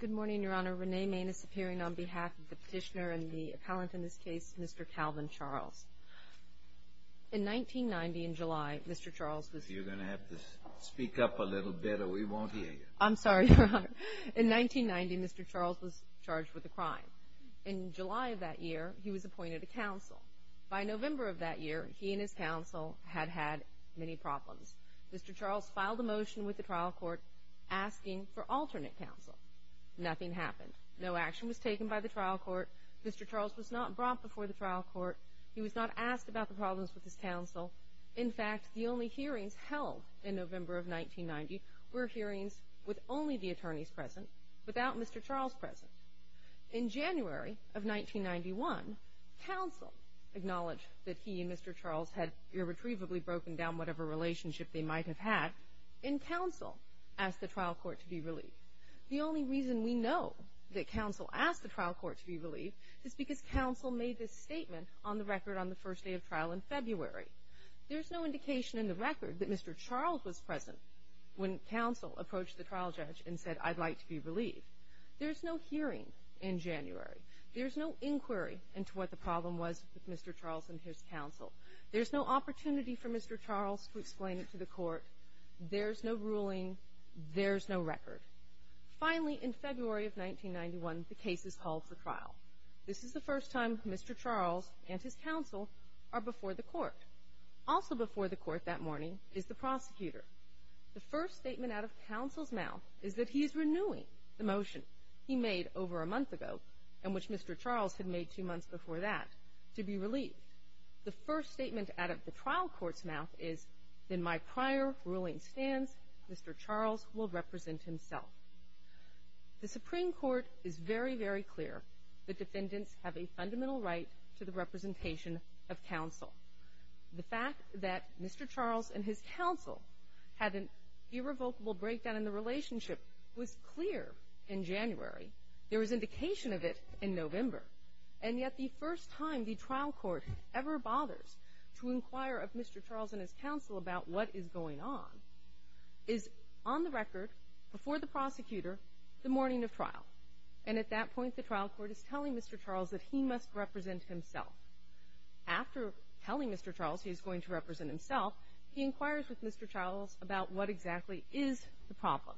Good morning, Your Honor. Renee Main is appearing on behalf of the petitioner and the appellant in this case, Mr. Calvin Charles. In 1990, in July, Mr. Charles was... You're going to have to speak up a little bit or we won't hear you. I'm sorry, Your Honor. In 1990, Mr. Charles was charged with a crime. In July of that year, he was appointed to counsel. By November of that year, he and his counsel had had many problems. Mr. Charles filed a motion with the trial court asking for alternate counsel. Nothing happened. No action was taken by the trial court. Mr. Charles was not brought before the trial court. He was not asked about the problems with his counsel. In fact, the only hearings held in November of 1990 were hearings with only the attorneys present, without Mr. Charles present. In January of 1991, counsel acknowledged that he and Mr. Charles had irretrievably broken down whatever relationship they might have had, and counsel asked the trial court to be relieved. The only reason we know that counsel asked the trial court to be relieved is because counsel made this statement on the record on the first day of trial in February. There's no indication in the record that Mr. Charles was present when counsel approached the trial judge and said, I'd like to be relieved. There's no hearing in January. There's no inquiry into what the problem was with Mr. Charles and his counsel. There's no opportunity for Mr. Charles to explain it to the court. There's no ruling. There's no record. Finally, in February of 1991, the case is called for trial. This is the first time Mr. Charles and his counsel are before the court. Also before the court that morning is the prosecutor. The first statement out of counsel's mouth is that he is renewing the motion he made over a month ago, and which Mr. Charles had made two months before that, to be relieved. The first statement out of the trial court's mouth is, in my prior ruling stance, Mr. Charles will represent himself. The Supreme Court is very, very clear that defendants have a fundamental right to the representation of counsel. The fact that Mr. Charles and his counsel had an irrevocable breakdown in the relationship was clear in January. There was indication of it in November. And yet the first time the trial court ever bothers to inquire of Mr. Charles and his counsel about what is going on is on the record, before the prosecutor, the morning of trial. And at that point, the trial court is telling Mr. Charles that he must represent himself. After telling Mr. Charles he is going to represent himself, he inquires with Mr. Charles about what exactly is the problem.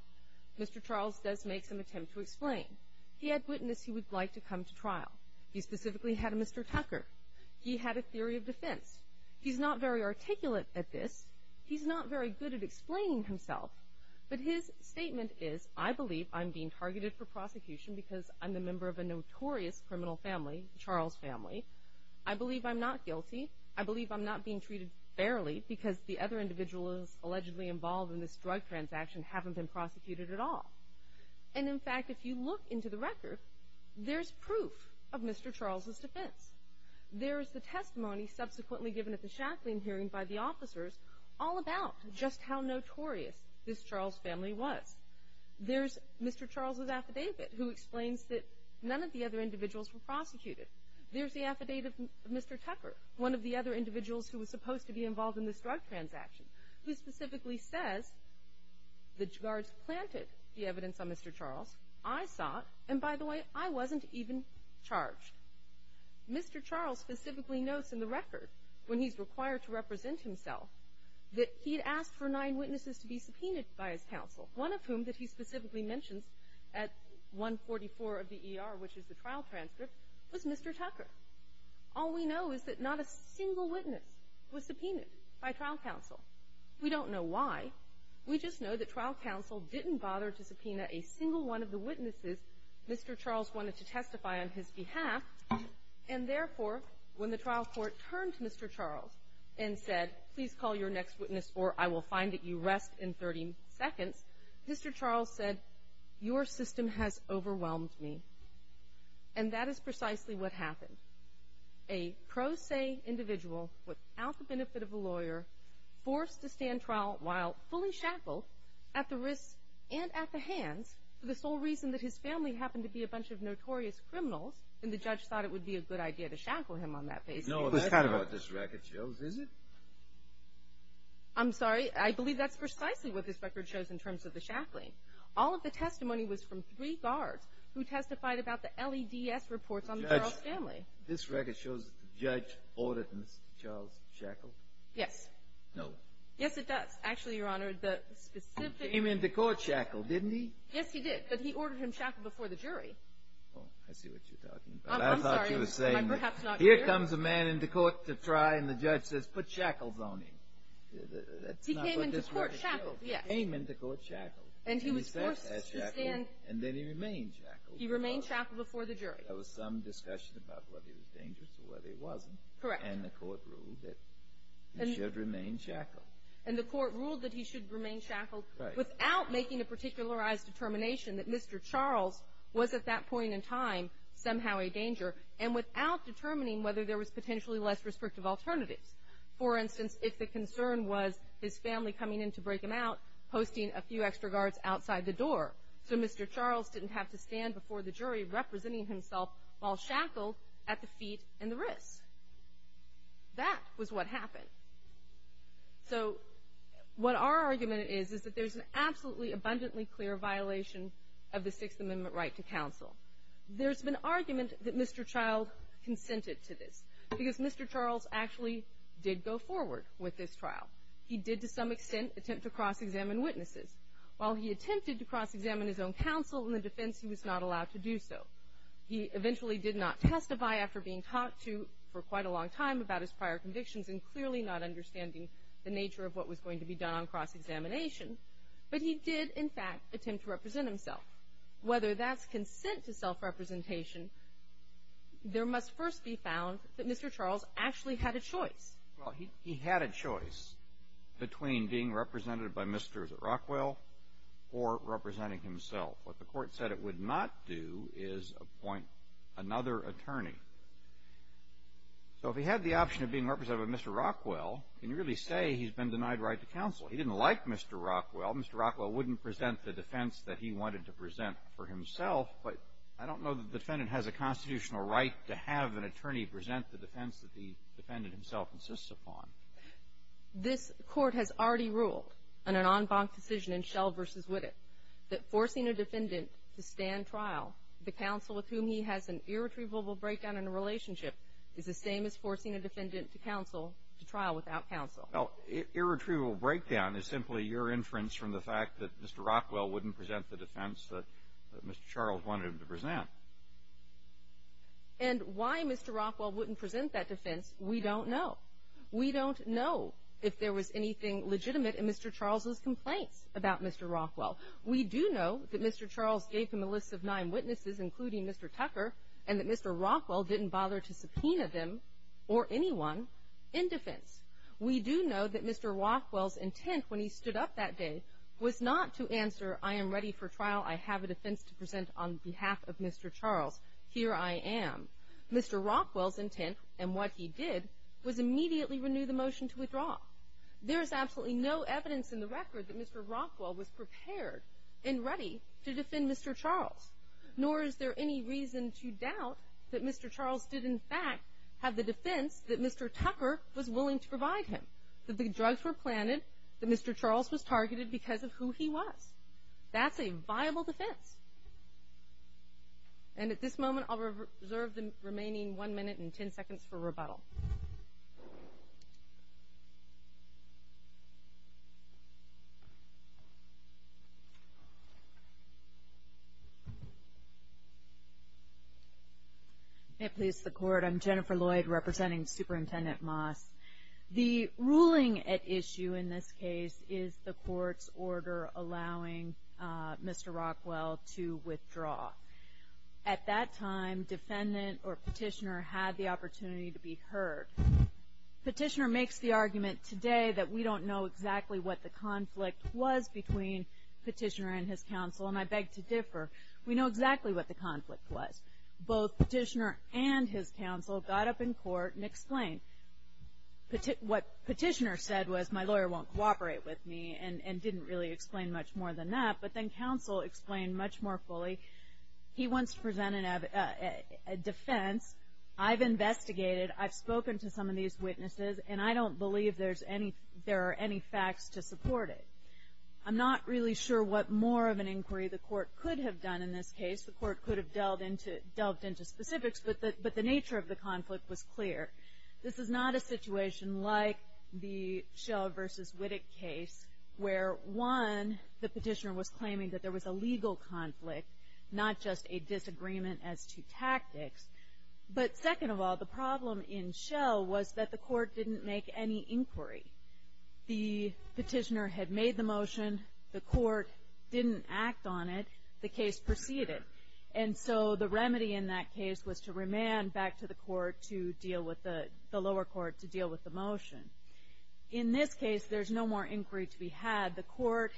Mr. Charles does make some attempt to explain. He had witness he would like to come to trial. He specifically had a Mr. Tucker. He had a theory of defense. He's not very articulate at this. He's not very good at explaining himself. But his statement is, I believe I'm being targeted for prosecution because I'm the member of a notorious criminal family, the Charles family. I believe I'm not guilty. I believe I'm not being treated fairly because the other individuals allegedly involved in this drug transaction haven't been prosecuted at all. And, in fact, if you look into the record, there's proof of Mr. Charles' defense. There is the testimony subsequently given at the Shacklin hearing by the officers all about just how notorious this Charles family was. There's Mr. Charles' affidavit who explains that none of the other individuals were prosecuted. There's the affidavit of Mr. Tucker, one of the other individuals who was supposed to be involved in this drug transaction, who specifically says the guards planted the evidence on Mr. Charles. I saw it. And, by the way, I wasn't even charged. Mr. Charles specifically notes in the record, when he's required to represent himself, that he'd asked for nine witnesses to be subpoenaed by his counsel, one of whom that he specifically mentions at 144 of the ER, which is the trial transcript, was Mr. Tucker. All we know is that not a single witness was subpoenaed by trial counsel. We don't know why. We just know that trial counsel didn't bother to subpoena a single one of the witnesses Mr. Charles wanted to testify on his behalf. And, therefore, when the trial court turned to Mr. Charles and said, please call your next witness or I will find that you rest in 30 seconds, Mr. Charles said, your system has overwhelmed me. And that is precisely what happened. A pro se individual, without the benefit of a lawyer, forced to stand trial while fully shackled at the wrists and at the hands, for the sole reason that his family happened to be a bunch of notorious criminals, and the judge thought it would be a good idea to shackle him on that basis. No, that's not what this record shows, is it? I'm sorry. I believe that's precisely what this record shows in terms of the shackling. All of the testimony was from three guards who testified about the LEDS reports on Charles' family. This record shows that the judge ordered Mr. Charles shackled? Yes. No. Yes, it does. Actually, Your Honor, the specific He came into court shackled, didn't he? Yes, he did, but he ordered him shackled before the jury. Oh, I see what you're talking about. I'm sorry, am I perhaps not clear? Here comes a man into court to try, and the judge says, put shackles on him. He came into court shackled, yes. He came into court shackled. And he was forced to stand. And then he remained shackled. He remained shackled before the jury. There was some discussion about whether he was dangerous or whether he wasn't. Correct. And the court ruled that he should remain shackled. And the court ruled that he should remain shackled without making a particularized determination that Mr. Charles was at that point in time somehow a danger, and without determining whether there was potentially less restrictive alternatives. For instance, if the concern was his family coming in to break him out, posting a few extra guards outside the door, so Mr. Charles didn't have to stand before the jury representing himself while shackled at the feet and the wrists. That was what happened. So what our argument is is that there's an absolutely abundantly clear violation of the Sixth Amendment right to counsel. There's been argument that Mr. Child consented to this, because Mr. Charles actually did go forward with this trial. He did, to some extent, attempt to cross-examine witnesses. While he attempted to cross-examine his own counsel in the defense, he was not allowed to do so. He eventually did not testify after being talked to for quite a long time about his prior convictions and clearly not understanding the nature of what was going to be done on cross-examination. But he did, in fact, attempt to represent himself. Whether that's consent to self-representation, there must first be found that Mr. Charles actually had a choice. Well, he had a choice between being represented by Mr. Rockwell or representing himself. What the Court said it would not do is appoint another attorney. So if he had the option of being represented by Mr. Rockwell, can you really say he's been denied right to counsel? He didn't like Mr. Rockwell. Mr. Rockwell wouldn't present the defense that he wanted to present for himself. But I don't know that the defendant has a constitutional right to have an attorney present the defense that the defendant himself insists upon. This Court has already ruled in an en banc decision in Shell v. Witte that forcing a defendant to stand trial, the counsel with whom he has an irretrievable breakdown in a relationship, is the same as forcing a defendant to trial without counsel. Irretrievable breakdown is simply your inference from the fact that Mr. Rockwell wouldn't present the defense that Mr. Charles wanted him to present. And why Mr. Rockwell wouldn't present that defense, we don't know. We don't know if there was anything legitimate in Mr. Charles' complaints about Mr. Rockwell. We do know that Mr. Charles gave him a list of nine witnesses, including Mr. Tucker, and that Mr. Rockwell didn't bother to subpoena them or anyone in defense. We do know that Mr. Rockwell's intent when he stood up that day was not to answer, I am ready for trial, I have a defense to present on behalf of Mr. Charles. Here I am. Mr. Rockwell's intent, and what he did, was immediately renew the motion to withdraw. There is absolutely no evidence in the record that Mr. Rockwell was prepared and ready to defend Mr. Charles, nor is there any reason to doubt that Mr. Charles did in fact have the defense that Mr. Tucker was willing to provide him, that the drugs were planted, that Mr. Charles was targeted because of who he was. That's a viable defense. And at this moment I'll reserve the remaining one minute and ten seconds for rebuttal. May it please the Court, I'm Jennifer Lloyd representing Superintendent Moss. The ruling at issue in this case is the Court's order allowing Mr. Rockwell to withdraw. At that time, defendant or petitioner had the opportunity to be heard. Petitioner makes the argument today that we don't know exactly what the conflict was between petitioner and his counsel, and I beg to differ. We know exactly what the conflict was. Both petitioner and his counsel got up in court and explained. What petitioner said was, my lawyer won't cooperate with me, and didn't really explain much more than that, but then counsel explained much more fully. He wants to present a defense. I've investigated. I've spoken to some of these witnesses, and I don't believe there are any facts to support it. I'm not really sure what more of an inquiry the Court could have done in this case. The Court could have delved into specifics, but the nature of the conflict was clear. This is not a situation like the Schell v. Wittig case where, one, the petitioner was claiming that there was a legal conflict, not just a disagreement as to tactics. But second of all, the problem in Schell was that the Court didn't make any inquiry. The petitioner had made the motion. The Court didn't act on it. The case proceeded. And so the remedy in that case was to remand back to the lower court to deal with the motion. In this case, there's no more inquiry to be had. The Court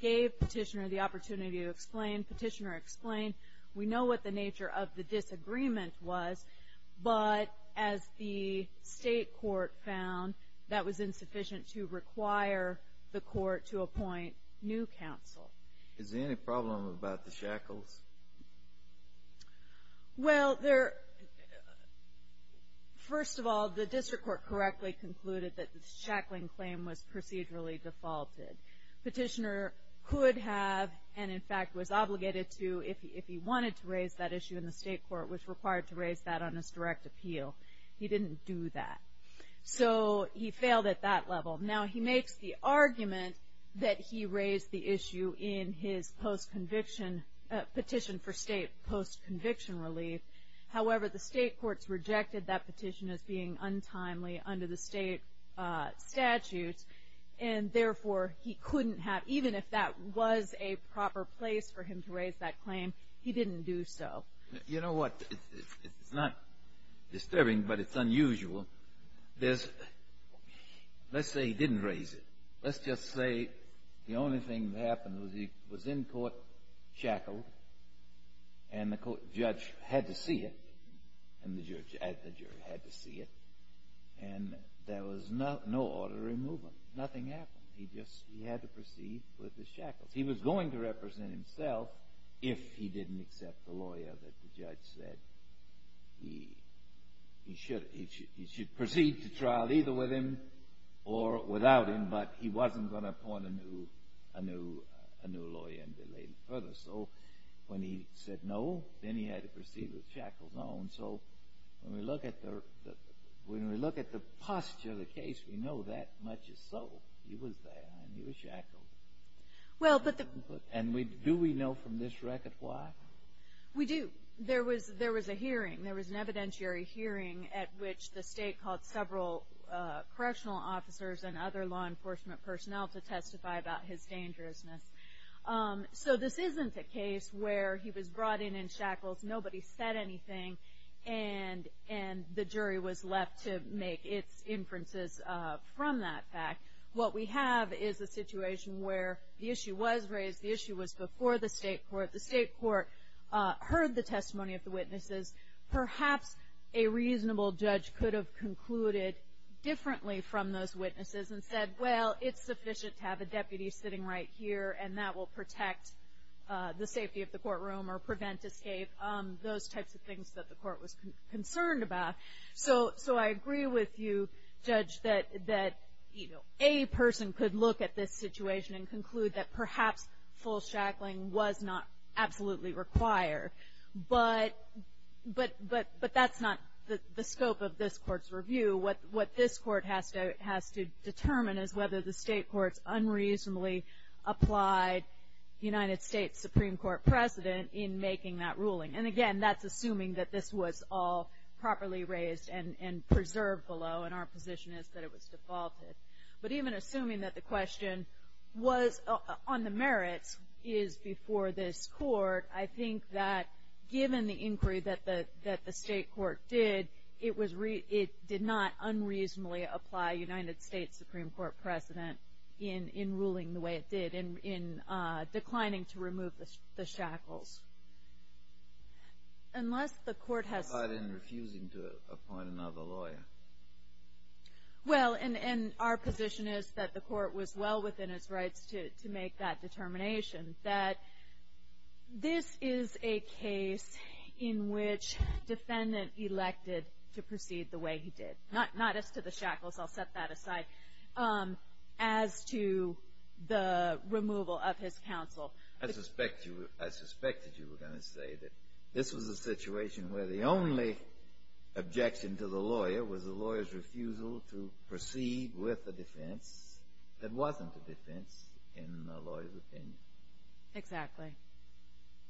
gave petitioner the opportunity to explain. Petitioner explained. We know what the nature of the disagreement was, but as the state court found, that was insufficient to require the Court to appoint new counsel. Is there any problem about the shackles? Well, first of all, the district court correctly concluded that the shackling claim was procedurally defaulted. Petitioner could have and, in fact, was obligated to, if he wanted to raise that issue in the state court, was required to raise that on his direct appeal. He didn't do that. So he failed at that level. Now, he makes the argument that he raised the issue in his post-conviction petition for state post-conviction relief. However, the state courts rejected that petition as being untimely under the state statutes, and therefore he couldn't have, even if that was a proper place for him to raise that claim, he didn't do so. You know what? It's not disturbing, but it's unusual. Let's say he didn't raise it. Let's just say the only thing that happened was he was in court shackled, and the judge had to see it, and the jury had to see it, and there was no order to remove him. Nothing happened. He just had to proceed with the shackles. He was going to represent himself if he didn't accept the lawyer that the judge said he should have. He should proceed to trial either with him or without him, but he wasn't going to appoint a new lawyer and delay it further. So when he said no, then he had to proceed with shackles on. So when we look at the posture of the case, we know that much is so. He was there, and he was shackled. And do we know from this record why? We do. There was a hearing. There was a hearing at which the state called several correctional officers and other law enforcement personnel to testify about his dangerousness. So this isn't a case where he was brought in in shackles, nobody said anything, and the jury was left to make its inferences from that fact. What we have is a situation where the issue was raised. The issue was before the state court. The state court heard the testimony of the witnesses. Perhaps a reasonable judge could have concluded differently from those witnesses and said, well, it's sufficient to have a deputy sitting right here, and that will protect the safety of the courtroom or prevent escape, those types of things that the court was concerned about. So I agree with you, Judge, that, you know, a person could look at this situation and conclude that perhaps full shackling was not absolutely required, but that's not the scope of this court's review. What this court has to determine is whether the state courts unreasonably applied the United States Supreme Court precedent in making that ruling. And, again, that's assuming that this was all properly raised and preserved below, and our position is that it was defaulted. But even assuming that the question was on the merits is before this court, I think that given the inquiry that the state court did, it did not unreasonably apply United States Supreme Court precedent in ruling the way it did and in declining to remove the shackles. Unless the court has... Well, and our position is that the court was well within its rights to make that determination, that this is a case in which defendant elected to proceed the way he did, not as to the shackles, I'll set that aside, as to the removal of his counsel. I suspected you were going to say that this was a situation where the only objection to the lawyer was the lawyer's refusal to proceed with a defense that wasn't a defense in the lawyer's opinion. Exactly.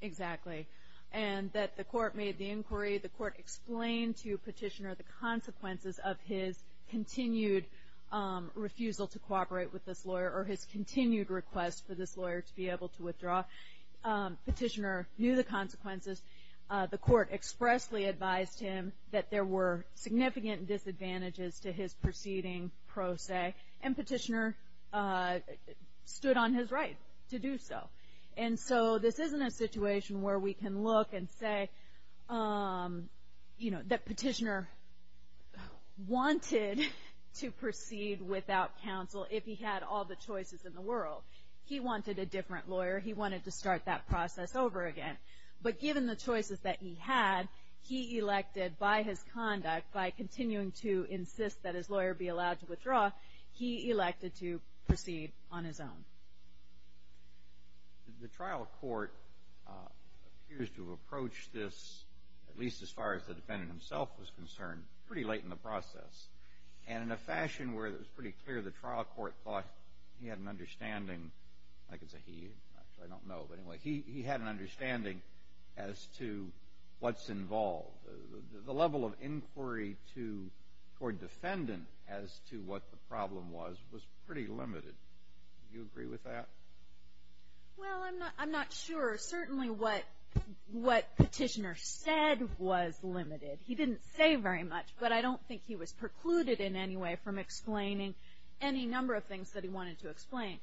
Exactly. And that the court made the inquiry, the court explained to Petitioner the consequences of his continued refusal to cooperate with this lawyer or his continued request for this lawyer to be able to withdraw. Petitioner knew the consequences. The court expressly advised him that there were significant disadvantages to his proceeding pro se, and Petitioner stood on his right to do so. And so this isn't a situation where we can look and say, you know, that Petitioner wanted to proceed without counsel if he had all the choices in the world. He wanted a different lawyer. He wanted to start that process over again. But given the choices that he had, he elected by his conduct, by continuing to insist that his lawyer be allowed to withdraw, he elected to proceed on his own. The trial court appears to have approached this, at least as far as the defendant himself was concerned, pretty late in the process. And in a fashion where it was pretty clear the trial court thought he had an understanding, I can say he, actually I don't know, but anyway, he had an understanding as to what's involved. The level of inquiry toward defendant as to what the problem was was pretty limited. Do you agree with that? Well, I'm not sure. Certainly what Petitioner said was limited. He didn't say very much, but I don't think he was precluded in any way from explaining any number of things that he wanted to explain.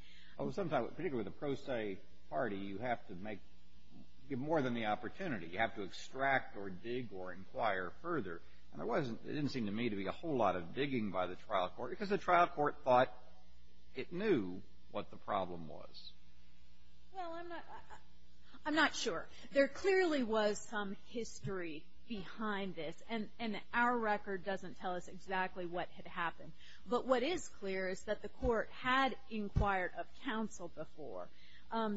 Sometimes, particularly the pro se party, you have to make more than the opportunity. You have to extract or dig or inquire further. And there didn't seem to me to be a whole lot of digging by the trial court because the trial court thought it knew what the problem was. Well, I'm not sure. There clearly was some history behind this, and our record doesn't tell us exactly what had happened. But what is clear is that the court had inquired of counsel before.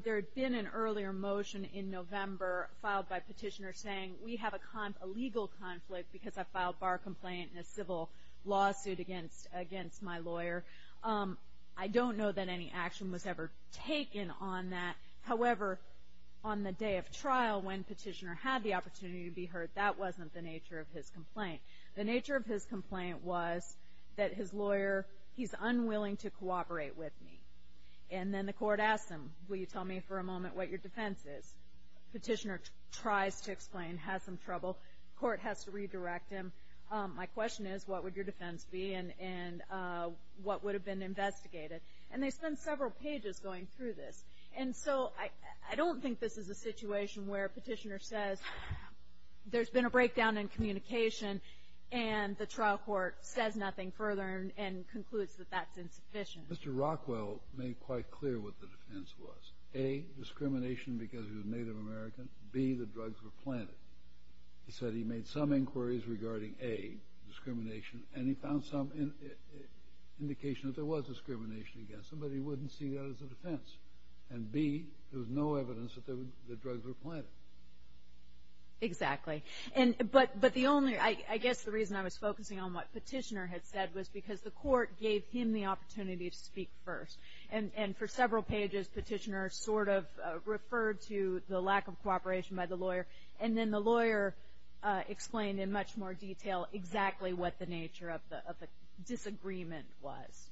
There had been an earlier motion in November filed by Petitioner saying, we have a legal conflict because I filed bar complaint in a civil lawsuit against my lawyer. I don't know that any action was ever taken on that. However, on the day of trial when Petitioner had the opportunity to be heard, that wasn't the nature of his complaint. The nature of his complaint was that his lawyer, he's unwilling to cooperate with me. And then the court asked him, will you tell me for a moment what your defense is? Petitioner tries to explain, has some trouble. The court has to redirect him. My question is, what would your defense be and what would have been investigated? And they spend several pages going through this. And so I don't think this is a situation where Petitioner says, there's been a breakdown in communication, and the trial court says nothing further and concludes that that's insufficient. Mr. Rockwell made quite clear what the defense was. A, discrimination because he was Native American. B, the drugs were planted. He said he made some inquiries regarding, A, discrimination, and he found some indication that there was discrimination against him, but he wouldn't see that as a defense. And, B, there was no evidence that the drugs were planted. Exactly. But the only, I guess the reason I was focusing on what Petitioner had said was because the court gave him the opportunity to speak first. And for several pages, Petitioner sort of referred to the lack of cooperation by the lawyer, and then the lawyer explained in much more detail exactly what the nature of the disagreement was.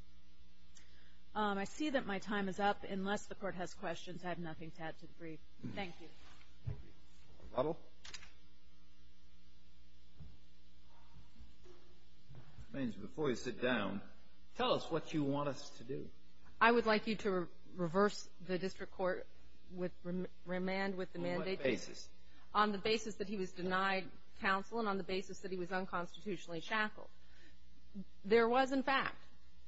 I see that my time is up. Unless the court has questions, I have nothing to add to the brief. Thank you. Puddle. Ma'am, before you sit down, tell us what you want us to do. I would like you to reverse the district court with remand with the mandate. On what basis? On the basis that he was denied counsel and on the basis that he was unconstitutionally shackled. There was, in fact,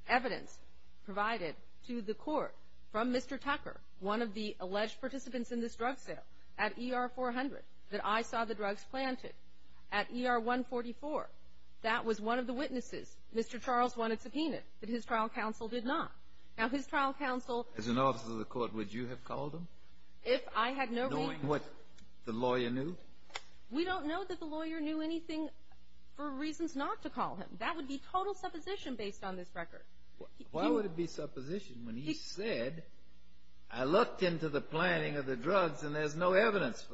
evidence provided to the court from Mr. Tucker, one of the alleged participants in this drug sale, at ER 400, that I saw the drugs planted. At ER 144, that was one of the witnesses. Mr. Charles wanted subpoenaed, but his trial counsel did not. Now, his trial counsel — As an officer of the court, would you have called him? If I had no reason — Knowing what the lawyer knew? We don't know that the lawyer knew anything for reasons not to call him. That would be total supposition based on this record. Why would it be supposition when he said, I looked into the planting of the drugs and there's no evidence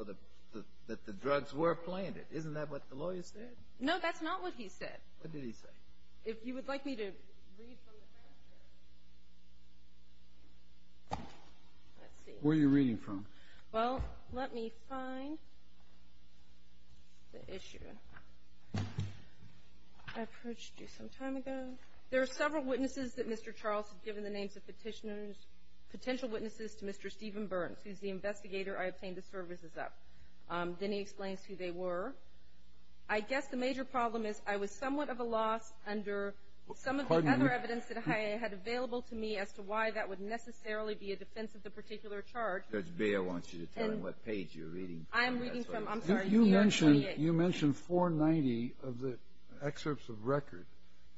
that the drugs were planted? Isn't that what the lawyer said? No, that's not what he said. What did he say? If you would like me to read from the transcript. Let's see. Where are you reading from? Well, let me find the issue. I approached you some time ago. There are several witnesses that Mr. Charles has given the names of petitioners, potential witnesses to Mr. Stephen Burns, who's the investigator I obtained the services of. Then he explains who they were. I guess the major problem is I was somewhat of a loss under some of the other evidence that I had available to me as to why that would necessarily be a defense of the particular charge. Judge Beyer wants you to tell him what page you're reading from. I'm reading from, I'm sorry, ER 28. You mentioned 490 of the excerpts of record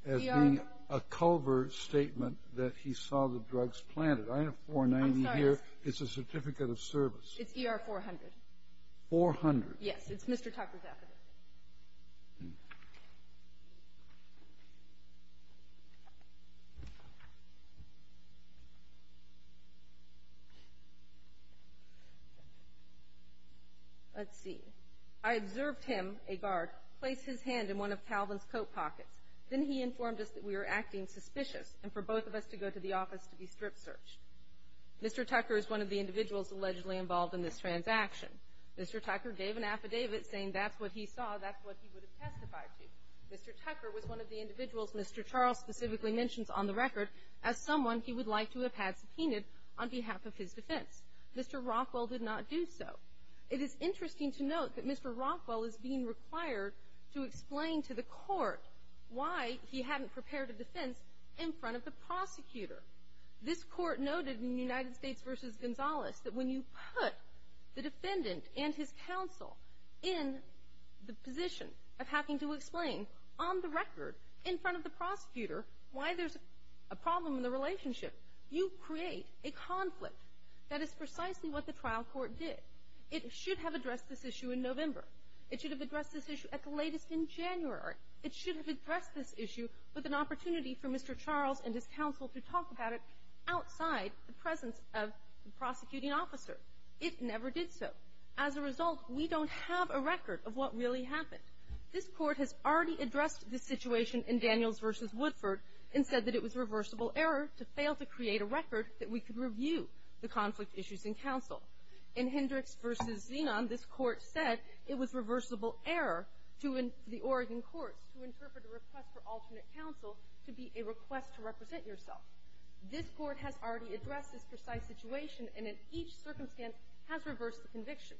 as being a culvert statement that he saw the drugs planted. I have 490 here. I'm sorry. It's a certificate of service. It's ER 400. 400. Yes. It's Mr. Tucker's affidavit. Let's see. I observed him, a guard, place his hand in one of Calvin's coat pockets. Then he informed us that we were acting suspicious and for both of us to go to the office to be strip searched. Mr. Tucker is one of the individuals allegedly involved in this transaction. Mr. Tucker gave an affidavit saying that's what he saw, that's what he would have testified to. Mr. Tucker was one of the individuals Mr. Charles specifically mentions on the record as someone he would like to have had subpoenaed on behalf of his defense. Mr. Rockwell did not do so. It is interesting to note that Mr. Rockwell is being required to explain to the court why he hadn't prepared a defense in front of the prosecutor. This court noted in the United States v. Gonzalez that when you put the defendant and his counsel in the position of having to explain on the record in front of the prosecutor why there's a problem in the relationship, you create a conflict. That is precisely what the trial court did. It should have addressed this issue in November. It should have addressed this issue at the latest in January. It should have addressed this issue with an opportunity for Mr. Charles and his counsel to talk about it outside the presence of the prosecuting officer. It never did so. As a result, we don't have a record of what really happened. This court has already addressed the situation in Daniels v. Woodford and said that it was reversible error to fail to create a record that we could review the conflict issues in counsel. In Hendricks v. Zenon, this court said it was reversible error to the Oregon courts to interpret a request for alternate counsel to be a request to represent yourself. This court has already addressed this precise situation, and in each circumstance has reversed the conviction.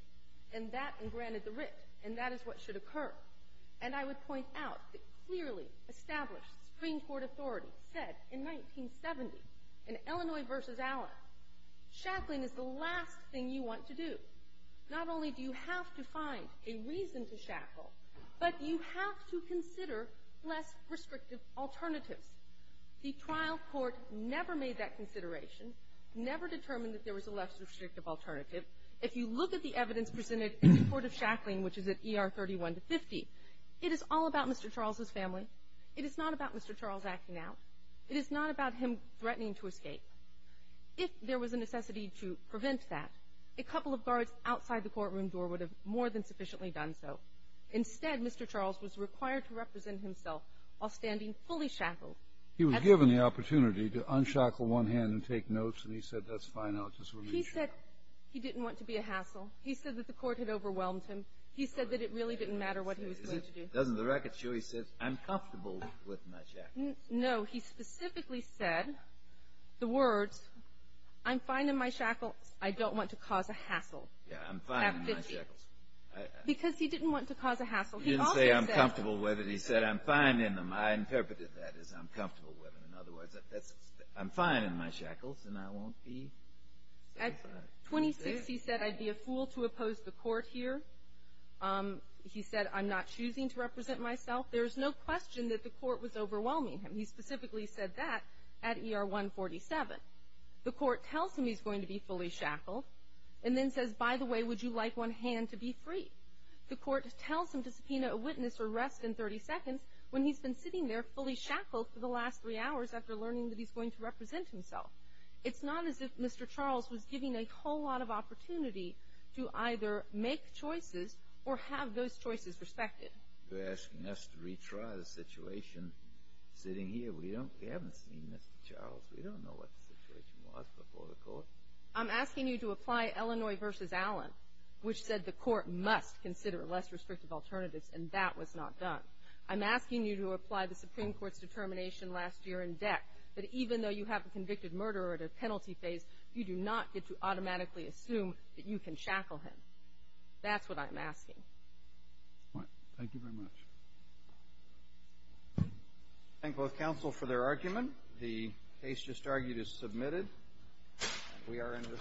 And that engranted the writ, and that is what should occur. And I would point out that clearly established Supreme Court authority said in 1970, in Illinois v. Allen, shackling is the last thing you want to do. Not only do you have to find a reason to shackle, but you have to consider less restrictive alternatives. The trial court never made that consideration, never determined that there was a less restrictive alternative. If you look at the evidence presented in the court of shackling, which is at ER 31-50, it is all about Mr. Charles's family. It is not about Mr. Charles acting out. It is not about him threatening to escape. If there was a necessity to prevent that, a couple of guards outside the courtroom door would have more than sufficiently done so. Instead, Mr. Charles was required to represent himself while standing fully shackled. He was given the opportunity to unshackle one hand and take notes, and he said, that's fine, I'll just remain shackled. He said he didn't want to be a hassle. He said that the court had overwhelmed him. He said that it really didn't matter what he was going to do. Doesn't the record show he said, I'm comfortable with my shackles? No, he specifically said the words, I'm fine in my shackles, I don't want to cause a hassle. Yeah, I'm fine in my shackles. Because he didn't want to cause a hassle. He didn't say I'm comfortable with it. He said, I'm fine in them. I interpreted that as I'm comfortable with them. In other words, I'm fine in my shackles and I won't be. At 26, he said, I'd be a fool to oppose the court here. He said, I'm not choosing to represent myself. There's no question that the court was overwhelming him. He specifically said that at ER 147. The court tells him he's going to be fully shackled and then says, by the way, would you like one hand to be free? The court tells him to subpoena a witness or rest in 30 seconds when he's been sitting there fully shackled for the last three hours after learning that he's going to represent himself. It's not as if Mr. Charles was given a whole lot of opportunity to either make choices or have those choices respected. They're asking us to retry the situation sitting here. We haven't seen Mr. Charles. We don't know what the situation was before the court. I'm asking you to apply Illinois v. Allen, which said the court must consider less restrictive alternatives, and that was not done. I'm asking you to apply the Supreme Court's determination last year in DEC that even though you have a convicted murderer at a penalty phase, you do not get to automatically assume that you can shackle him. That's what I'm asking. All right. Thank you very much. Thank both counsel for their argument. The case just argued is submitted. We are in recess. Thank you.